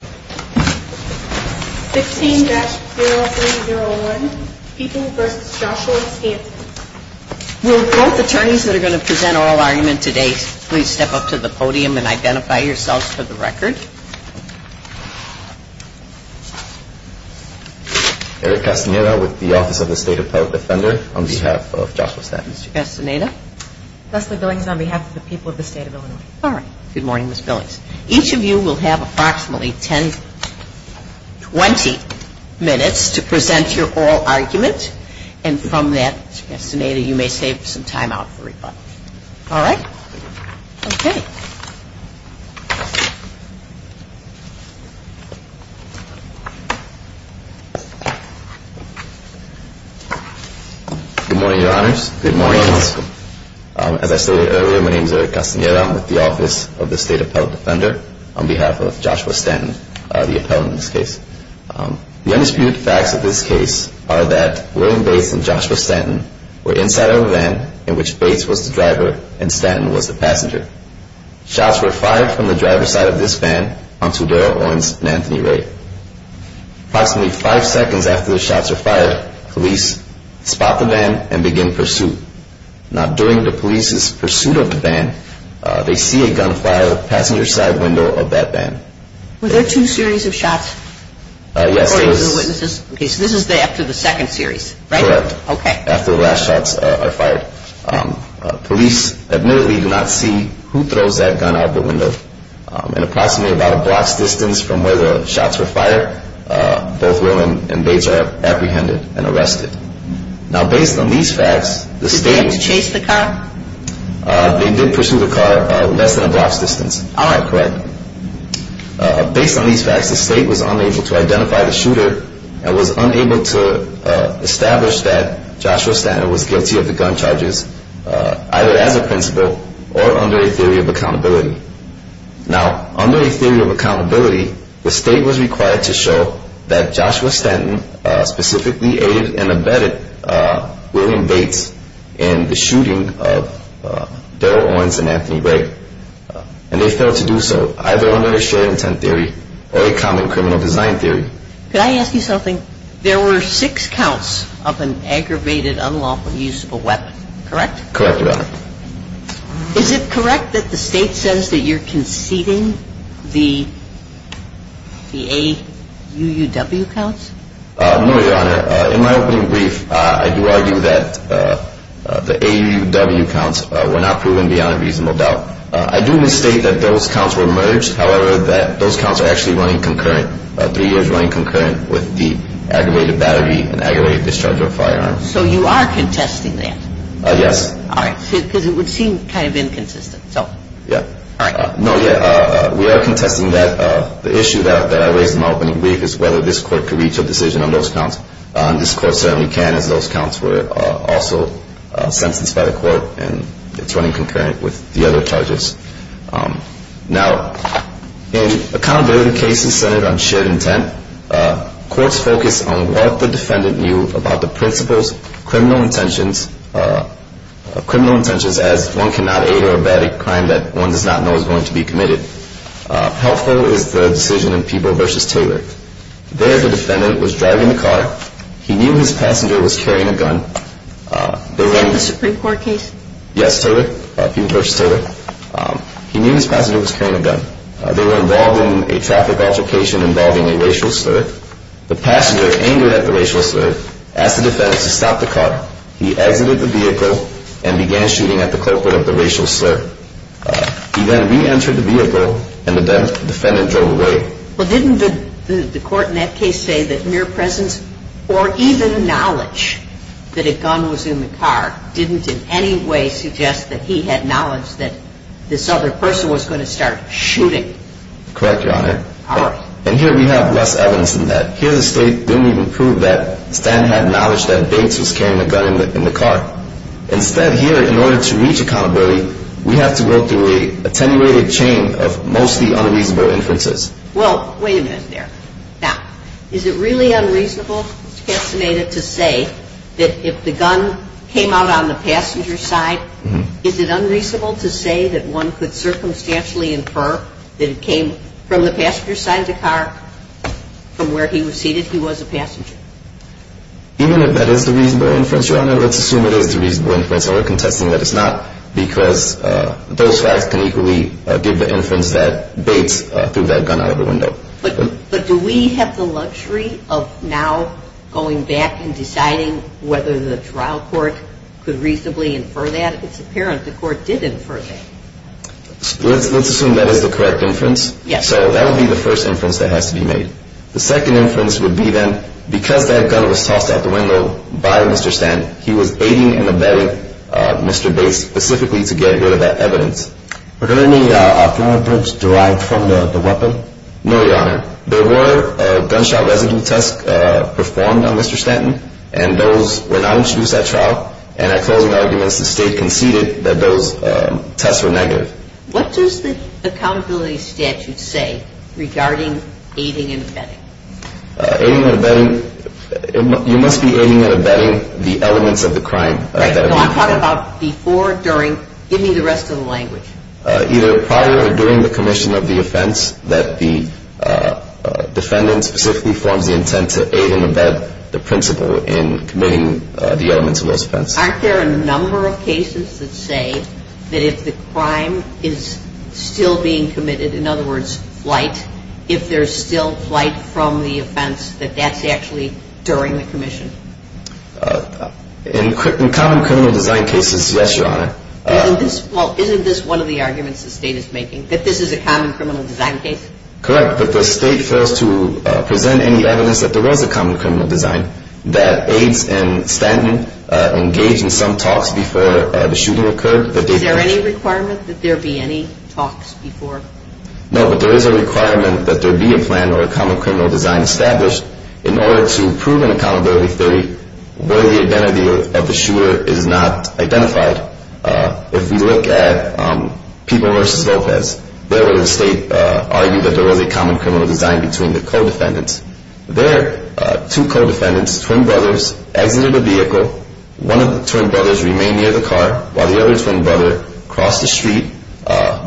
16-0301, People v. Joshua Stanton. Will both attorneys that are going to present oral argument today please step up to the podium and identify yourselves for the record. Eric Castaneda with the Office of the State Appellate Defender on behalf of Joshua Stanton. Mr. Castaneda. Leslie Billings on behalf of the people of the state of Illinois. All right. Good morning, Ms. Billings. Each of you will have approximately 10, 20 minutes to present your oral argument. And from that, Mr. Castaneda, you may save some time out for rebuttal. All right? Okay. Good morning, Your Honors. Good morning. As I stated earlier, my name is Eric Castaneda. I'm with the Office of the State Appellate Defender on behalf of Joshua Stanton, the appellant in this case. The undisputed facts of this case are that William Bates and Joshua Stanton were inside of a van in which Bates was the driver and Stanton was the passenger. Shots were fired from the driver's side of this van onto Darrell Owens and Anthony Ray. Approximately five seconds after the shots were fired, police spot the van and begin pursuit. Now, during the police's pursuit of the van, they see a gunfire passing the side window of that van. Were there two series of shots? Yes. According to the witnesses. Okay. So this is after the second series, right? Correct. Okay. After the last shots are fired. Police admittedly do not see who throws that gun out the window. In approximately about a block's distance from where the shots were fired, both William and Bates are apprehended and arrested. Now, based on these facts, the state... Did they have to chase the car? They did pursue the car less than a block's distance. All right. Correct. Based on these facts, the state was unable to identify the shooter and was unable to establish that Joshua Stanton was guilty of the gun charges, either as a principal or under a theory of accountability. Now, under a theory of accountability, the state was required to show that Joshua Stanton specifically aided and abetted William Bates in the shooting of Daryl Owens and Anthony Ray, and they failed to do so, either under a shared intent theory or a common criminal design theory. Could I ask you something? There were six counts of an aggravated, unlawful use of a weapon, correct? Correct, Your Honor. Is it correct that the state says that you're conceding the AUUW counts? No, Your Honor. In my opening brief, I do argue that the AUUW counts were not proven beyond a reasonable doubt. I do misstate that those counts were merged, however, that those counts are actually running concurrent, three years running concurrent with the aggravated battery and aggravated discharge of firearms. So you are contesting that? Yes. All right. Because it would seem kind of inconsistent, so. Yeah. All right. No, yeah, we are contesting that. The issue that I raised in my opening brief is whether this Court could reach a decision on those counts. This Court certainly can, as those counts were also sentenced by the Court, and it's running concurrent with the other charges. Now, in accountability cases centered on shared intent, courts focus on what the defendant knew about the principal's criminal intentions, as one cannot aid or abet a crime that one does not know is going to be committed. Helpful is the decision in Peeble v. Taylor. There the defendant was driving the car. He knew his passenger was carrying a gun. Is that the Supreme Court case? Yes, Taylor, Peeble v. Taylor. He knew his passenger was carrying a gun. They were involved in a traffic altercation involving a racial slur. The passenger, angered at the racial slur, asked the defendant to stop the car. He exited the vehicle and began shooting at the culprit of the racial slur. He then reentered the vehicle, and the defendant drove away. Well, didn't the Court in that case say that mere presence or even knowledge that a gun was in the car didn't in any way suggest that he had knowledge that this other person was going to start shooting? Correct, Your Honor. All right. And here we have less evidence than that. Here the State didn't even prove that Stan had knowledge that Bates was carrying a gun in the car. Instead, here, in order to reach accountability, we have to go through an attenuated chain of mostly unreasonable inferences. Well, wait a minute there. Now, is it really unreasonable, Mr. Castaneda, to say that if the gun came out on the passenger's side, is it unreasonable to say that one could circumstantially infer that it came from the passenger's side of the car? From where he was seated, he was a passenger. Even if that is the reasonable inference, Your Honor, let's assume it is the reasonable inference. And we're contesting that it's not because those facts can equally give the inference that Bates threw that gun out of the window. But do we have the luxury of now going back and deciding whether the trial court could reasonably infer that? It's apparent the Court did infer that. Let's assume that is the correct inference. Yes. So that would be the first inference that has to be made. The second inference would be, then, because that gun was tossed out the window by Mr. Stanton, he was aiding and abetting Mr. Bates specifically to get rid of that evidence. Were there any other inferences derived from the weapon? No, Your Honor. There were gunshot residue tests performed on Mr. Stanton, and those were not introduced at trial. And at closing arguments, the State conceded that those tests were negative. What does the accountability statute say regarding aiding and abetting? Aiding and abetting, you must be aiding and abetting the elements of the crime. Right. So I'm talking about before, during, give me the rest of the language. Either prior or during the commission of the offense that the defendant specifically forms the intent to aid and abet the principal in committing the elements of those offenses. Aren't there a number of cases that say that if the crime is still being committed, in other words, flight, if there's still flight from the offense, that that's actually during the commission? In common criminal design cases, yes, Your Honor. Well, isn't this one of the arguments the State is making, that this is a common criminal design case? Correct, but the State fails to present any evidence that there was a common criminal design, that AIDS and Stanton engaged in some talks before the shooting occurred. Is there any requirement that there be any talks before? No, but there is a requirement that there be a plan or a common criminal design established in order to prove an accountability theory where the identity of the shooter is not identified. If we look at People v. Lopez, there where the State argued that there was a common criminal design between the co-defendants. There, two co-defendants, twin brothers, exited a vehicle. One of the twin brothers remained near the car while the other twin brother crossed the street,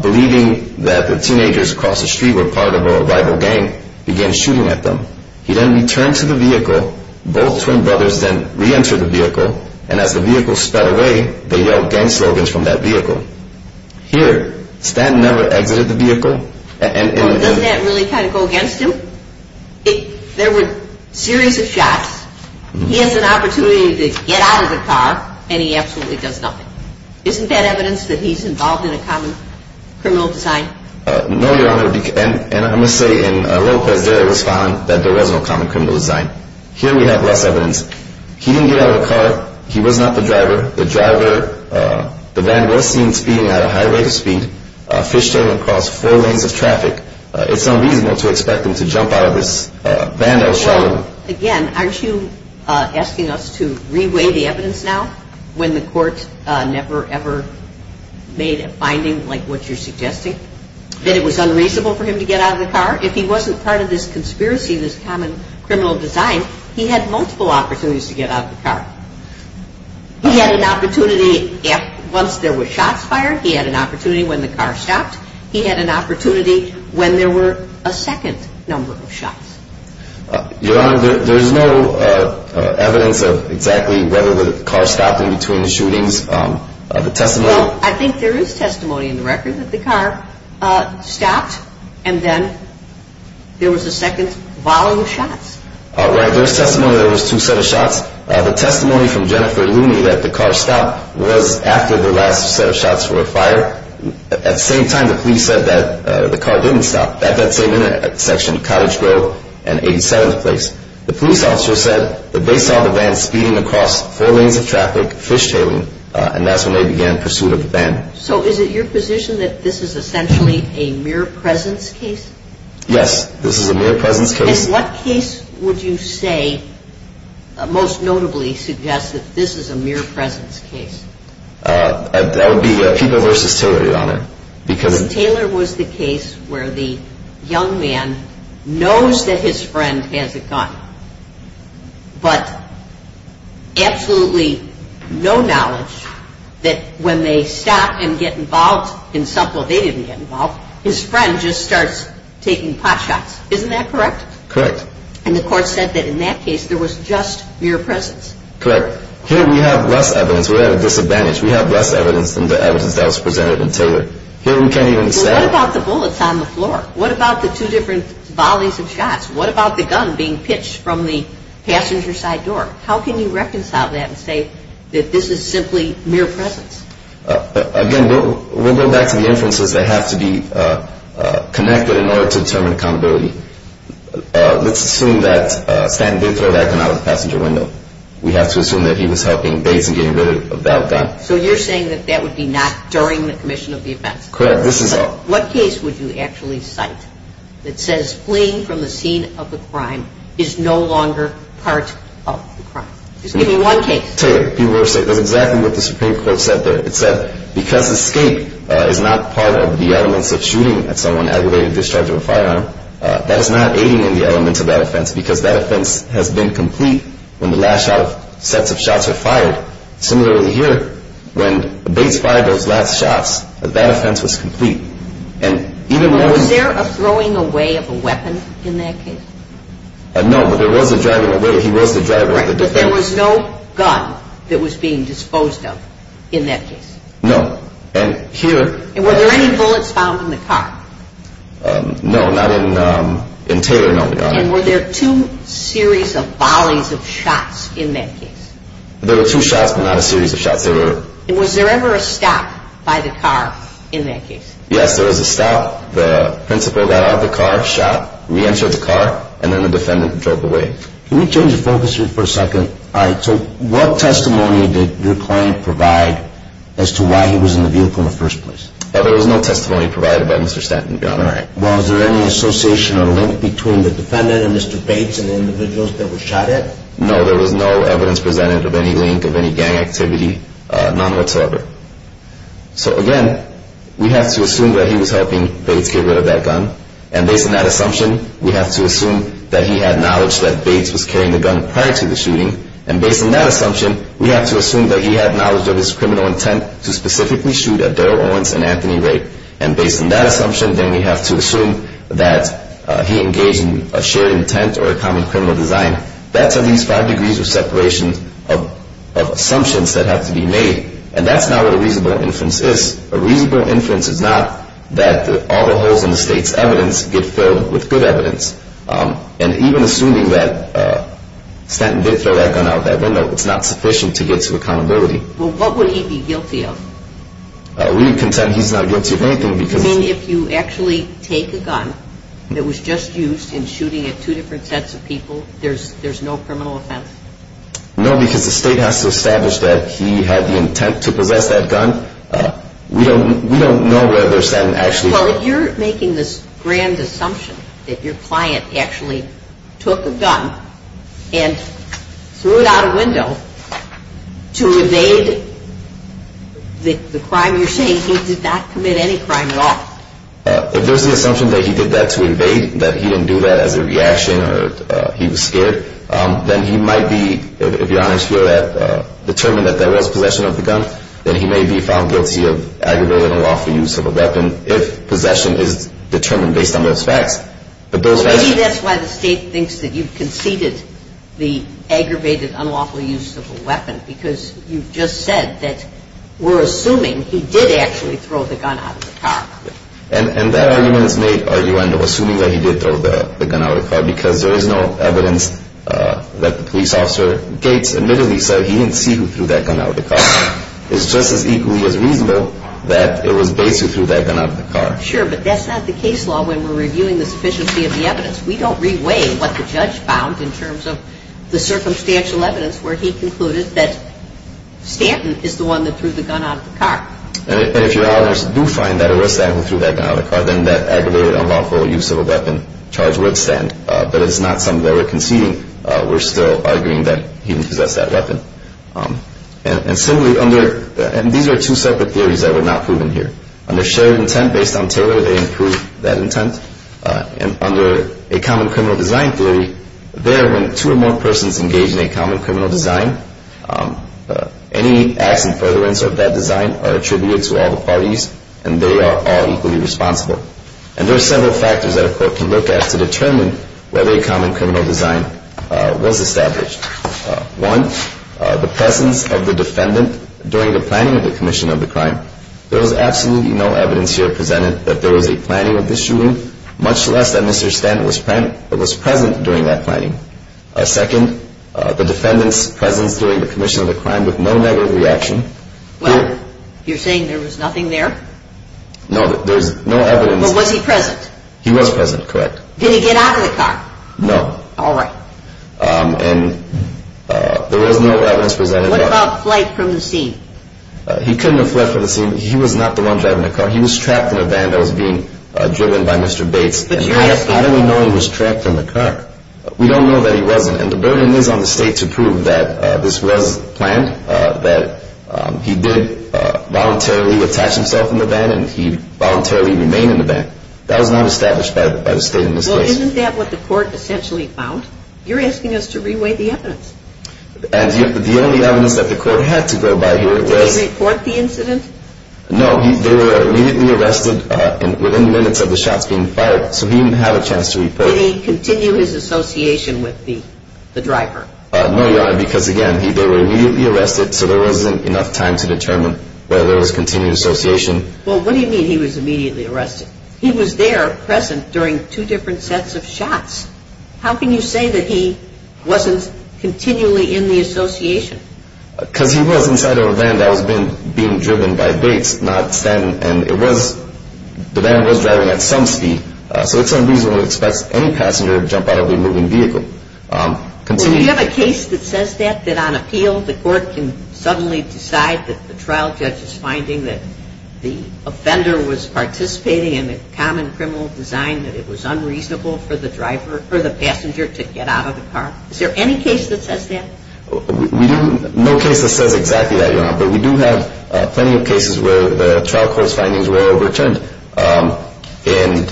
believing that the teenagers across the street were part of a rival gang, began shooting at them. He then returned to the vehicle. Both twin brothers then reentered the vehicle, and as the vehicle sped away, they yelled gang slogans from that vehicle. Here, Stanton never exited the vehicle. Well, doesn't that really kind of go against him? There were a series of shots. He has an opportunity to get out of the car, and he absolutely does nothing. Isn't that evidence that he's involved in a common criminal design? No, Your Honor, and I must say in Lopez, there it was found that there was no common criminal design. Here we have less evidence. He didn't get out of the car. He was not the driver. The driver, the van was seen speeding at a high rate of speed, fishing across four lanes of traffic. It's unreasonable to expect him to jump out of this van that was shot at him. Again, aren't you asking us to reweigh the evidence now when the court never ever made a finding like what you're suggesting, that it was unreasonable for him to get out of the car? If he wasn't part of this conspiracy, this common criminal design, he had multiple opportunities to get out of the car. He had an opportunity once there were shots fired. He had an opportunity when the car stopped. He had an opportunity when there were a second number of shots. Your Honor, there's no evidence of exactly whether the car stopped in between the shootings. The testimony— Well, I think there is testimony in the record that the car stopped and then there was a second volume of shots. Right. There's testimony there was two sets of shots. The testimony from Jennifer Looney that the car stopped was after the last set of shots were fired. At the same time, the police said that the car didn't stop at that same intersection, Cottage Grove and 87th Place. The police officer said that they saw the van speeding across four lanes of traffic, fishtailing, and that's when they began pursuit of the van. So is it your position that this is essentially a mere presence case? Yes, this is a mere presence case. In what case would you say most notably suggests that this is a mere presence case? That would be Peeble v. Taylor, Your Honor. Because Taylor was the case where the young man knows that his friend has a gun, but absolutely no knowledge that when they stop and get involved in something where they didn't get involved, his friend just starts taking pot shots. Isn't that correct? Correct. And the court said that in that case there was just mere presence? Correct. Here we have less evidence. We're at a disadvantage. We have less evidence than the evidence that was presented in Taylor. Here we can't even say- Well, what about the bullets on the floor? What about the two different volleys of shots? What about the gun being pitched from the passenger side door? How can you reconcile that and say that this is simply mere presence? Again, we'll go back to the inferences that have to be connected in order to determine accountability. Let's assume that Stanton did throw that gun out of the passenger window. We have to assume that he was helping Bates in getting rid of that gun. So you're saying that that would be not during the commission of the offense? Correct. What case would you actually cite that says fleeing from the scene of the crime is no longer part of the crime? Just give me one case. Taylor, that's exactly what the Supreme Court said there. It said because escape is not part of the elements of shooting at someone aggravated in discharge of a firearm, that is not aiding in the elements of that offense because that offense has been complete when the last set of shots are fired. Similarly here, when Bates fired those last shots, that offense was complete. Was there a throwing away of a weapon in that case? No, but there was a driving away. There was no gun that was being disposed of in that case? No. Were there any bullets found in the car? No, not in Taylor, no, Your Honor. Were there two series of volleys of shots in that case? There were two shots, but not a series of shots. Was there ever a stop by the car in that case? Yes, there was a stop. The principal got out of the car, shot, reentered the car, and then the defendant drove away. Can we change the focus here for a second? All right, so what testimony did your client provide as to why he was in the vehicle in the first place? There was no testimony provided by Mr. Stanton, Your Honor. All right. Was there any association or link between the defendant and Mr. Bates and the individuals that were shot at? No, there was no evidence presented of any link, of any gang activity, none whatsoever. So again, we have to assume that he was helping Bates get rid of that gun, and based on that assumption, we have to assume that he had knowledge that Bates was carrying the gun prior to the shooting, and based on that assumption, we have to assume that he had knowledge of his criminal intent to specifically shoot at Daryl Owens and Anthony Raitt, and based on that assumption, then we have to assume that he engaged in a shared intent or a common criminal design. That's at least five degrees of separation of assumptions that have to be made, and that's not what a reasonable inference is. A reasonable inference is not that all the holes in the state's evidence get filled with good evidence, and even assuming that Stanton did throw that gun out that window, it's not sufficient to get to accountability. Well, what would he be guilty of? We can say he's not guilty of anything because... You mean if you actually take a gun that was just used in shooting at two different sets of people, there's no criminal offense? No, because the state has to establish that he had the intent to possess that gun. We don't know whether Stanton actually... Well, if you're making this grand assumption that your client actually took a gun and threw it out a window to evade the crime you're saying, he did not commit any crime at all. If there's the assumption that he did that to evade, that he didn't do that as a reaction or he was scared, then he might be, if your honors feel that, determined that there was possession of the gun, then he may be found guilty of aggravated unlawful use of a weapon if possession is determined based on those facts. Maybe that's why the state thinks that you've conceded the aggravated unlawful use of a weapon because you've just said that we're assuming he did actually throw the gun out of the car. And that argument is made arguing or assuming that he did throw the gun out of the car because there is no evidence that the police officer Gates admittedly said he didn't see who threw that gun out of the car. It's just as equally as reasonable that it was Bates who threw that gun out of the car. Sure, but that's not the case law when we're reviewing the sufficiency of the evidence. We don't re-weigh what the judge found in terms of the circumstantial evidence where he concluded that Stanton is the one that threw the gun out of the car. And if your honors do find that it was Stanton who threw that gun out of the car, then that aggravated unlawful use of a weapon charge would stand. But it's not something that we're conceding. We're still arguing that he didn't possess that weapon. And similarly, these are two separate theories that were not proven here. Under shared intent based on Taylor, they improved that intent. And under a common criminal design theory, there when two or more persons engage in a common criminal design, any acts in furtherance of that design are attributed to all the parties, and they are all equally responsible. And there are several factors that a court can look at to determine whether a common criminal design was established. One, the presence of the defendant during the planning of the commission of the crime. There was absolutely no evidence here presented that there was a planning of this shooting, much less that Mr. Stanton was present during that planning. Second, the defendant's presence during the commission of the crime with no negative reaction. Well, you're saying there was nothing there? No, there's no evidence. But was he present? He was present, correct. Did he get out of the car? No. All right. And there was no evidence presented. What about flight from the scene? He couldn't have fled from the scene. He was not the one driving the car. He was trapped in a van that was being driven by Mr. Bates. How do we know he was trapped in the car? We don't know that he wasn't. And the burden is on the state to prove that this was planned, that he did voluntarily attach himself in the van and he voluntarily remained in the van. That was not established by the state in this case. Well, isn't that what the court essentially found? You're asking us to reweigh the evidence. And the only evidence that the court had to go by here was – Did he report the incident? No, they were immediately arrested within minutes of the shots being fired, so he didn't have a chance to report. Did he continue his association with the driver? No, Your Honor, because, again, they were immediately arrested, so there wasn't enough time to determine whether there was continued association. Well, what do you mean he was immediately arrested? He was there present during two different sets of shots. How can you say that he wasn't continually in the association? Because he was inside of a van that was being driven by Bates, and the van was driving at some speed, so it's unreasonable to expect any passenger to jump out of a moving vehicle. Well, do you have a case that says that, that on appeal the court can suddenly decide that the trial judge is finding that the offender was participating in a common criminal design, that it was unreasonable for the passenger to get out of the car? Is there any case that says that? No case that says exactly that, Your Honor, but we do have plenty of cases where the trial court's findings were overturned. In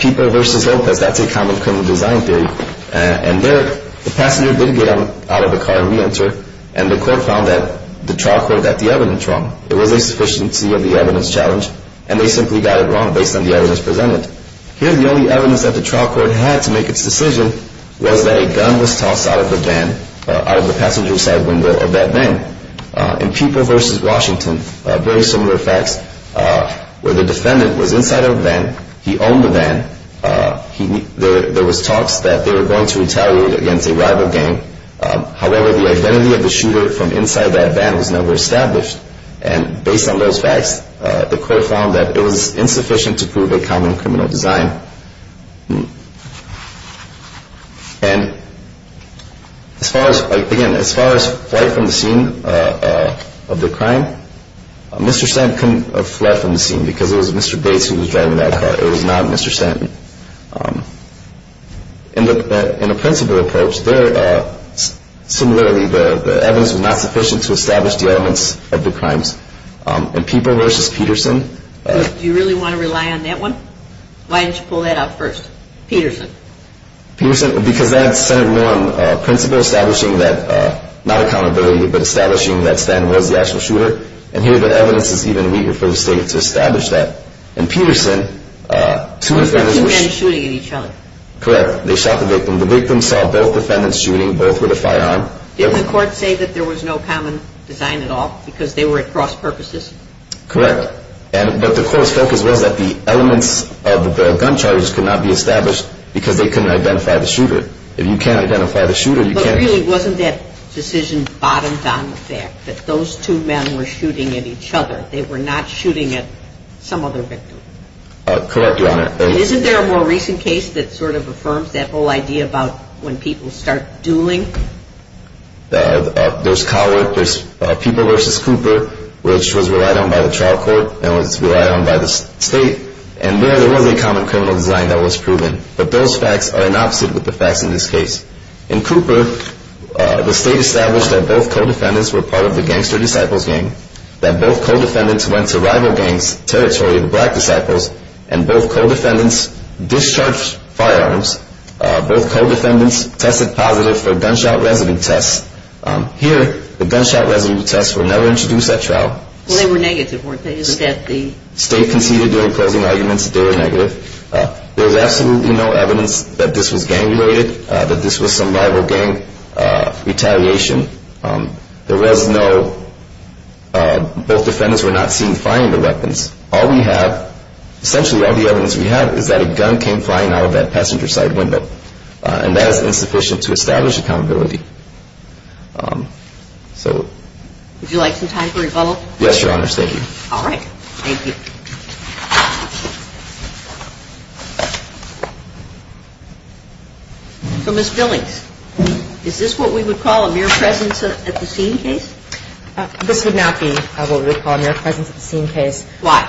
People v. Lopez, that's a common criminal design theory, and there the passenger did get out of the car and reenter, and the court found that the trial court got the evidence wrong. There was a sufficiency of the evidence challenge, and they simply got it wrong based on the evidence presented. Here the only evidence that the trial court had to make its decision was that a gun was tossed out of the van, out of the passenger side window of that van. In People v. Washington, very similar facts, where the defendant was inside of a van, he owned the van, there was talks that they were going to retaliate against a rival gang. However, the identity of the shooter from inside that van was never established, and based on those facts, the court found that it was insufficient to prove a common criminal design. And as far as, again, as far as flight from the scene of the crime, Mr. Stanton couldn't have fled from the scene because it was Mr. Bates who was driving that car. It was not Mr. Stanton. In a principal approach, similarly, the evidence was not sufficient to establish the elements of the crimes. In People v. Peterson... Do you really want to rely on that one? Why didn't you pull that out first? Peterson. Peterson, because that's Senate 1, principle establishing that, not accountability, but establishing that Stanton was the actual shooter, and here the evidence is even weaker for the state to establish that. In Peterson, two defendants... Two men shooting at each other. Correct. They shot the victim. The victim saw both defendants shooting, both with a firearm. Didn't the court say that there was no common design at all, because they were at cross purposes? Correct. But the court's focus was that the elements of the gun charges could not be established because they couldn't identify the shooter. If you can't identify the shooter, you can't shoot. But really, wasn't that decision bottomed on the fact that those two men were shooting at each other? They were not shooting at some other victim. Correct, Your Honor. And isn't there a more recent case that sort of affirms that whole idea about when people start dueling? There's Coward. There's People v. Cooper, which was relied on by the trial court and was relied on by the state, and there was a common criminal design that was proven. But those facts are an opposite with the facts in this case. In Cooper, the state established that both co-defendants were part of the Gangster Disciples Gang, that both co-defendants went to rival gangs' territory, the Black Disciples, and both co-defendants discharged firearms. Both co-defendants tested positive for gunshot residue tests. Here, the gunshot residue tests were never introduced at trial. Well, they were negative, weren't they? The state conceded during closing arguments that they were negative. There's absolutely no evidence that this was gang-related, that this was some rival gang retaliation. There was no—both defendants were not seen firing the weapons. All we have—essentially all the evidence we have is that a gun came flying out of that passenger side window, and that is insufficient to establish accountability. Would you like some time for rebuttal? Yes, Your Honor. Thank you. All right. Thank you. So, Ms. Billings, is this what we would call a mere presence at the scene case? This would not be what we would call a mere presence at the scene case. Why?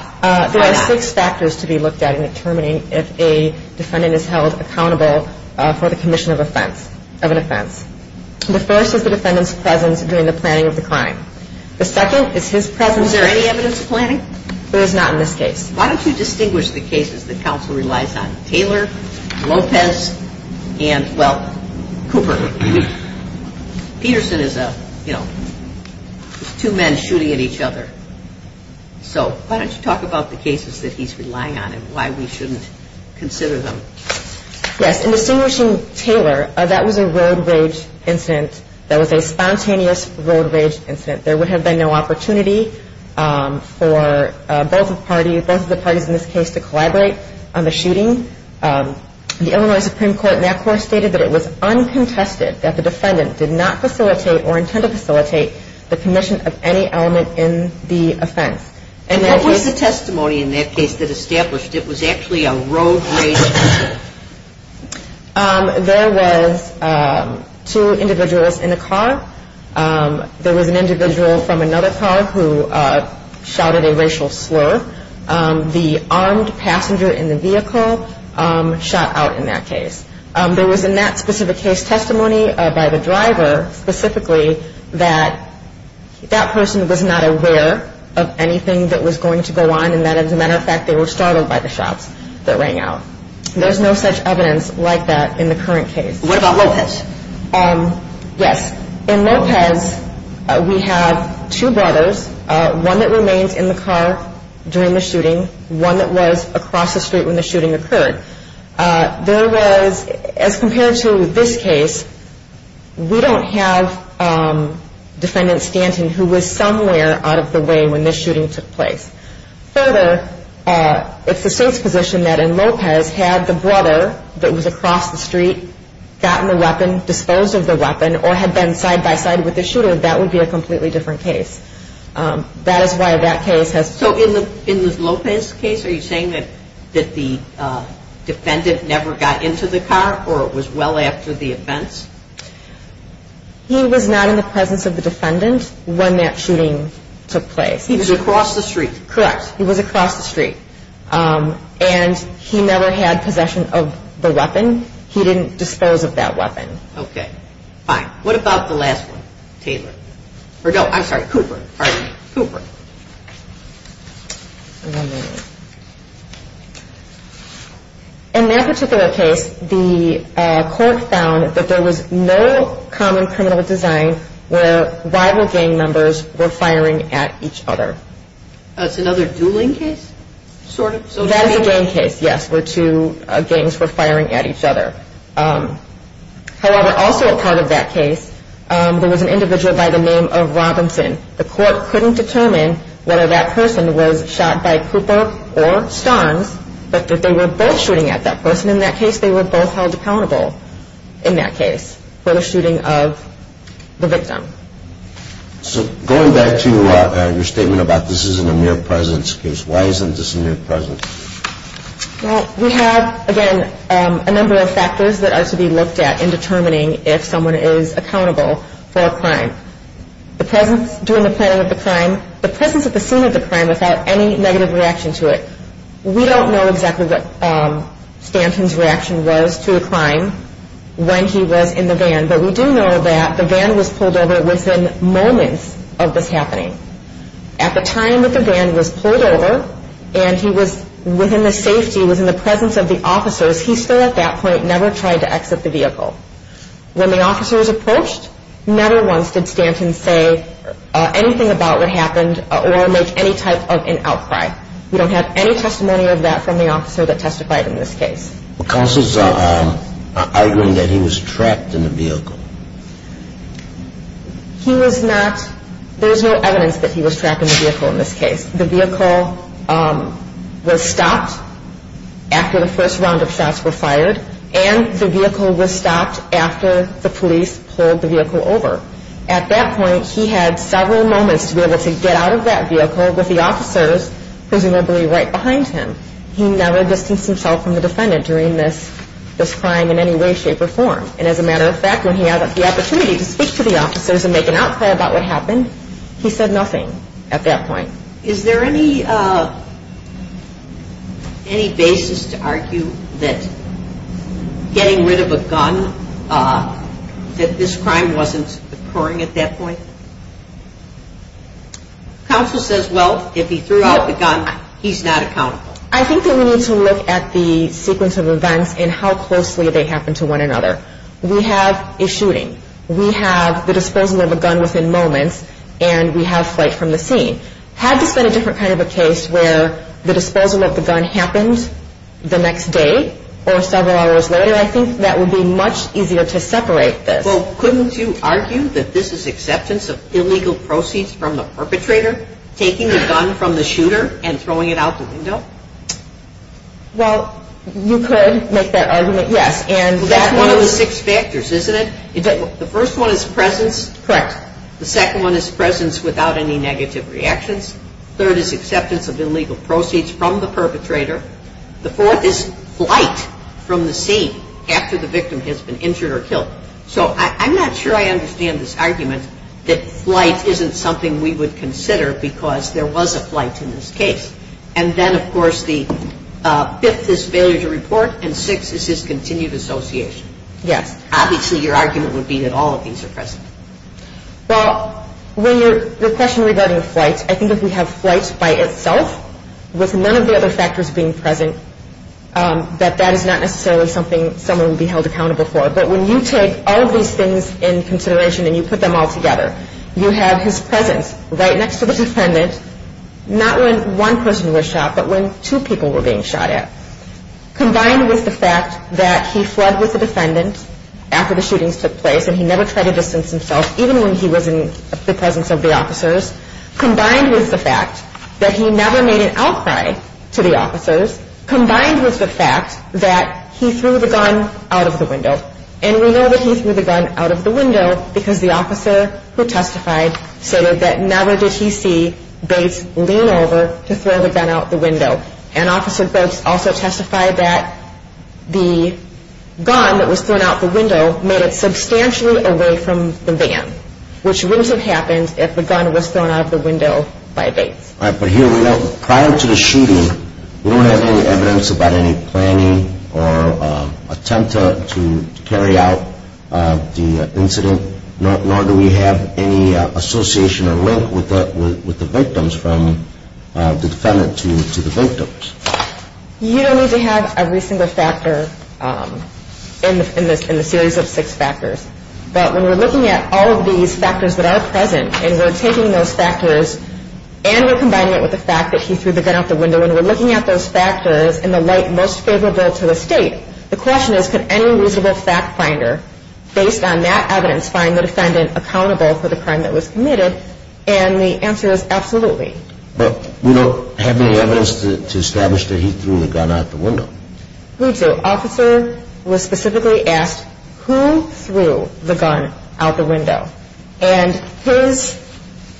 There are six factors to be looked at in determining if a defendant is held accountable for the commission of an offense. The first is the defendant's presence during the planning of the crime. The second is his presence— Was there any evidence of planning? There was not in this case. Why don't you distinguish the cases that counsel relies on? Taylor, Lopez, and, well, Cooper. Peterson is a, you know, two men shooting at each other. So why don't you talk about the cases that he's relying on and why we shouldn't consider them? Yes, in distinguishing Taylor, that was a road rage incident. That was a spontaneous road rage incident. There would have been no opportunity for both the parties in this case to collaborate on the shooting. The Illinois Supreme Court in that court stated that it was uncontested that the defendant did not facilitate or intend to facilitate the commission of any element in the offense. And what was the testimony in that case that established it was actually a road rage incident? There was two individuals in a car. There was an individual from another car who shouted a racial slur. The armed passenger in the vehicle shot out in that case. There was in that specific case testimony by the driver specifically that that person was not aware of anything that was going to go on and that, as a matter of fact, they were startled by the shots that rang out. There's no such evidence like that in the current case. What about Lopez? Yes, in Lopez, we have two brothers, one that remains in the car during the shooting, one that was across the street when the shooting occurred. There was, as compared to this case, we don't have defendant Stanton, who was somewhere out of the way when this shooting took place. Further, it's the state's position that in Lopez, had the brother that was across the street gotten the weapon, disposed of the weapon, or had been side-by-side with the shooter, that would be a completely different case. That is why that case has... So in the Lopez case, are you saying that the defendant never got into the car or it was well after the events? He was not in the presence of the defendant when that shooting took place. He was across the street. Correct. He was across the street. And he never had possession of the weapon. He didn't dispose of that weapon. Okay, fine. What about the last one, Taylor? Or no, I'm sorry, Cooper. All right, Cooper. In that particular case, the court found that there was no common criminal design where rival gang members were firing at each other. That's another dueling case, sort of? That is a gang case, yes, where two gangs were firing at each other. However, also a part of that case, there was an individual by the name of Robinson. The court couldn't determine whether that person was shot by Cooper or Starnes, but that they were both shooting at that person in that case. They were both held accountable in that case for the shooting of the victim. So going back to your statement about this isn't a mere presence case, why isn't this a mere presence? Well, we have, again, a number of factors that are to be looked at in determining if someone is accountable for a crime. The presence during the planning of the crime, the presence at the scene of the crime without any negative reaction to it. We don't know exactly what Stanton's reaction was to the crime when he was in the van, but we do know that the van was pulled over within moments of this happening. At the time that the van was pulled over and he was within the safety, he was in the presence of the officers, he still at that point never tried to exit the vehicle. When the officers approached, never once did Stanton say anything about what happened or make any type of an outcry. We don't have any testimony of that from the officer that testified in this case. Counsel's arguing that he was trapped in the vehicle. He was not, there was no evidence that he was trapped in the vehicle in this case. The vehicle was stopped after the first round of shots were fired and the vehicle was stopped after the police pulled the vehicle over. At that point, he had several moments to be able to get out of that vehicle with the officers presumably right behind him. He never distanced himself from the defendant during this crime in any way, shape, or form. And as a matter of fact, when he had the opportunity to speak to the officers and make an outcry about what happened, he said nothing at that point. Is there any basis to argue that getting rid of a gun, that this crime wasn't occurring at that point? Counsel says, well, if he threw out the gun, he's not accountable. I think that we need to look at the sequence of events and how closely they happen to one another. We have a shooting. We have the disposal of a gun within moments. And we have flight from the scene. Had this been a different kind of a case where the disposal of the gun happened the next day or several hours later, I think that would be much easier to separate this. Well, couldn't you argue that this is acceptance of illegal proceeds from the perpetrator taking the gun from the shooter and throwing it out the window? Well, you could make that argument, yes. That's one of the six factors, isn't it? The first one is presence. Correct. The second one is presence without any negative reactions. Third is acceptance of illegal proceeds from the perpetrator. So I'm not sure I understand this argument that flight isn't something we would consider because there was a flight in this case. And then, of course, the fifth is failure to report, and sixth is discontinued association. Yes. Obviously, your argument would be that all of these are present. Well, the question regarding flight, I think if we have flight by itself with none of the other factors being present, that that is not necessarily something someone would be held accountable for. But when you take all of these things in consideration and you put them all together, you have his presence right next to the defendant, not when one person was shot, but when two people were being shot at, combined with the fact that he fled with the defendant after the shootings took place and he never tried to distance himself, even when he was in the presence of the officers, combined with the fact that he never made an outcry to the officers, combined with the fact that he threw the gun out of the window. And we know that he threw the gun out of the window because the officer who testified said that never did he see Bates lean over to throw the gun out the window. And Officer Brooks also testified that the gun that was thrown out the window made it substantially away from the van, which wouldn't have happened if the gun was thrown out of the window by Bates. All right, but here we go. Prior to the shooting, we don't have any evidence about any planning or attempt to carry out the incident, nor do we have any association or link with the victims from the defendant to the victims. You don't need to have every single factor in the series of six factors. But when we're looking at all of these factors that are present and we're taking those factors and we're combining it with the fact that he threw the gun out the window and we're looking at those factors in the light most favorable to the State, the question is could any reasonable fact finder, based on that evidence, find the defendant accountable for the crime that was committed? And the answer is absolutely. But we don't have any evidence to establish that he threw the gun out the window. We do. Officer was specifically asked who threw the gun out the window. And his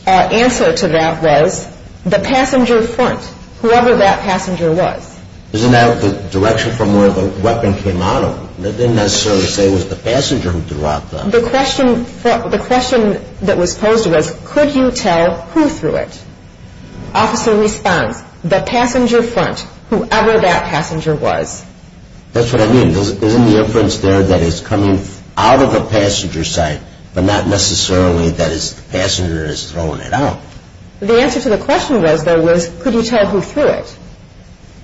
answer to that was the passenger front, whoever that passenger was. Isn't that the direction from where the weapon came out of? It didn't necessarily say it was the passenger who threw out the weapon. The question that was posed was could you tell who threw it? Officer responds, the passenger front, whoever that passenger was. That's what I mean. Isn't the inference there that it's coming out of the passenger side but not necessarily that the passenger is throwing it out? The answer to the question was, though, was could you tell who threw it?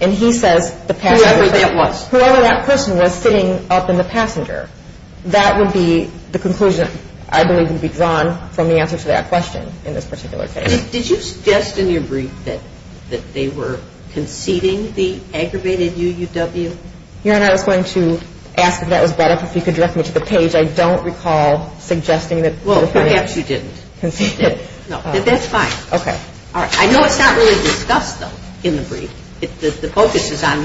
And he says the passenger front. Whoever that was. Whoever that person was sitting up in the passenger. That would be the conclusion I believe would be drawn from the answer to that question in this particular case. Did you suggest in your brief that they were conceding the aggravated UUW? Your Honor, I was going to ask if that was brought up. If you could direct me to the page. I don't recall suggesting that the defendant conceded. Well, perhaps you didn't. No. That's fine. Okay. I know it's not really discussed, though, in the brief. The focus is on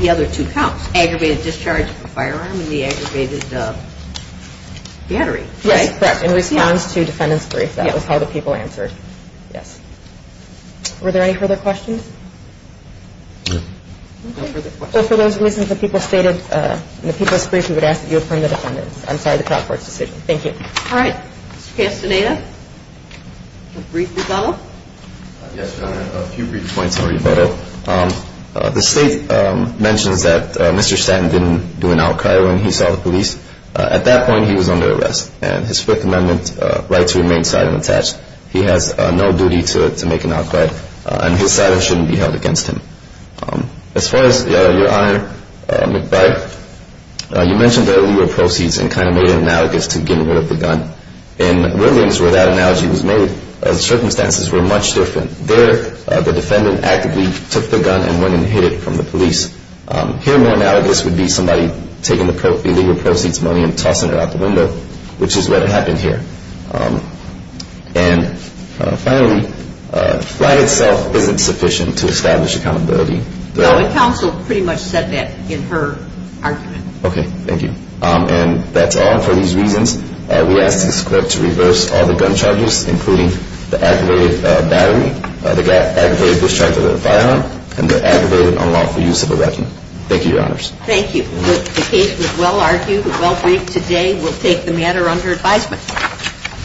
the other two counts. Aggravated discharge of the firearm and the aggravated battery. Yes, correct. In response to defendant's brief. That was how the people answered. Yes. Were there any further questions? No. No further questions. Well, for those reasons, the people stated in the people's brief, we would ask that you affirm the defendant's. I'm sorry, the trial court's decision. Thank you. All right. Mr. Castaneda. A brief rebuttal. Yes, Your Honor. A few brief points on rebuttal. The state mentions that Mr. Stanton didn't do an outcry when he saw the police. At that point, he was under arrest. And his Fifth Amendment right to remain silent and attached. He has no duty to make an outcry. And his silence shouldn't be held against him. As far as Your Honor McBride, you mentioned the illegal proceeds and kind of made an analogous to getting rid of the gun. In Williams, where that analogy was made, the circumstances were much different. There, the defendant actively took the gun and went and hid it from the police. Here, more analogous would be somebody taking the illegal proceeds money and tossing it out the window, which is what happened here. And finally, flight itself isn't sufficient to establish accountability. No, and counsel pretty much said that in her argument. Okay, thank you. And that's all for these reasons. We ask this court to reverse all the gun charges, including the aggravated battery, the aggravated discharge of the firearm, and the aggravated unlawful use of a weapon. Thank you, Your Honors. Thank you. The case was well argued, well briefed. Today, we'll take the matter under advisement. Thank you.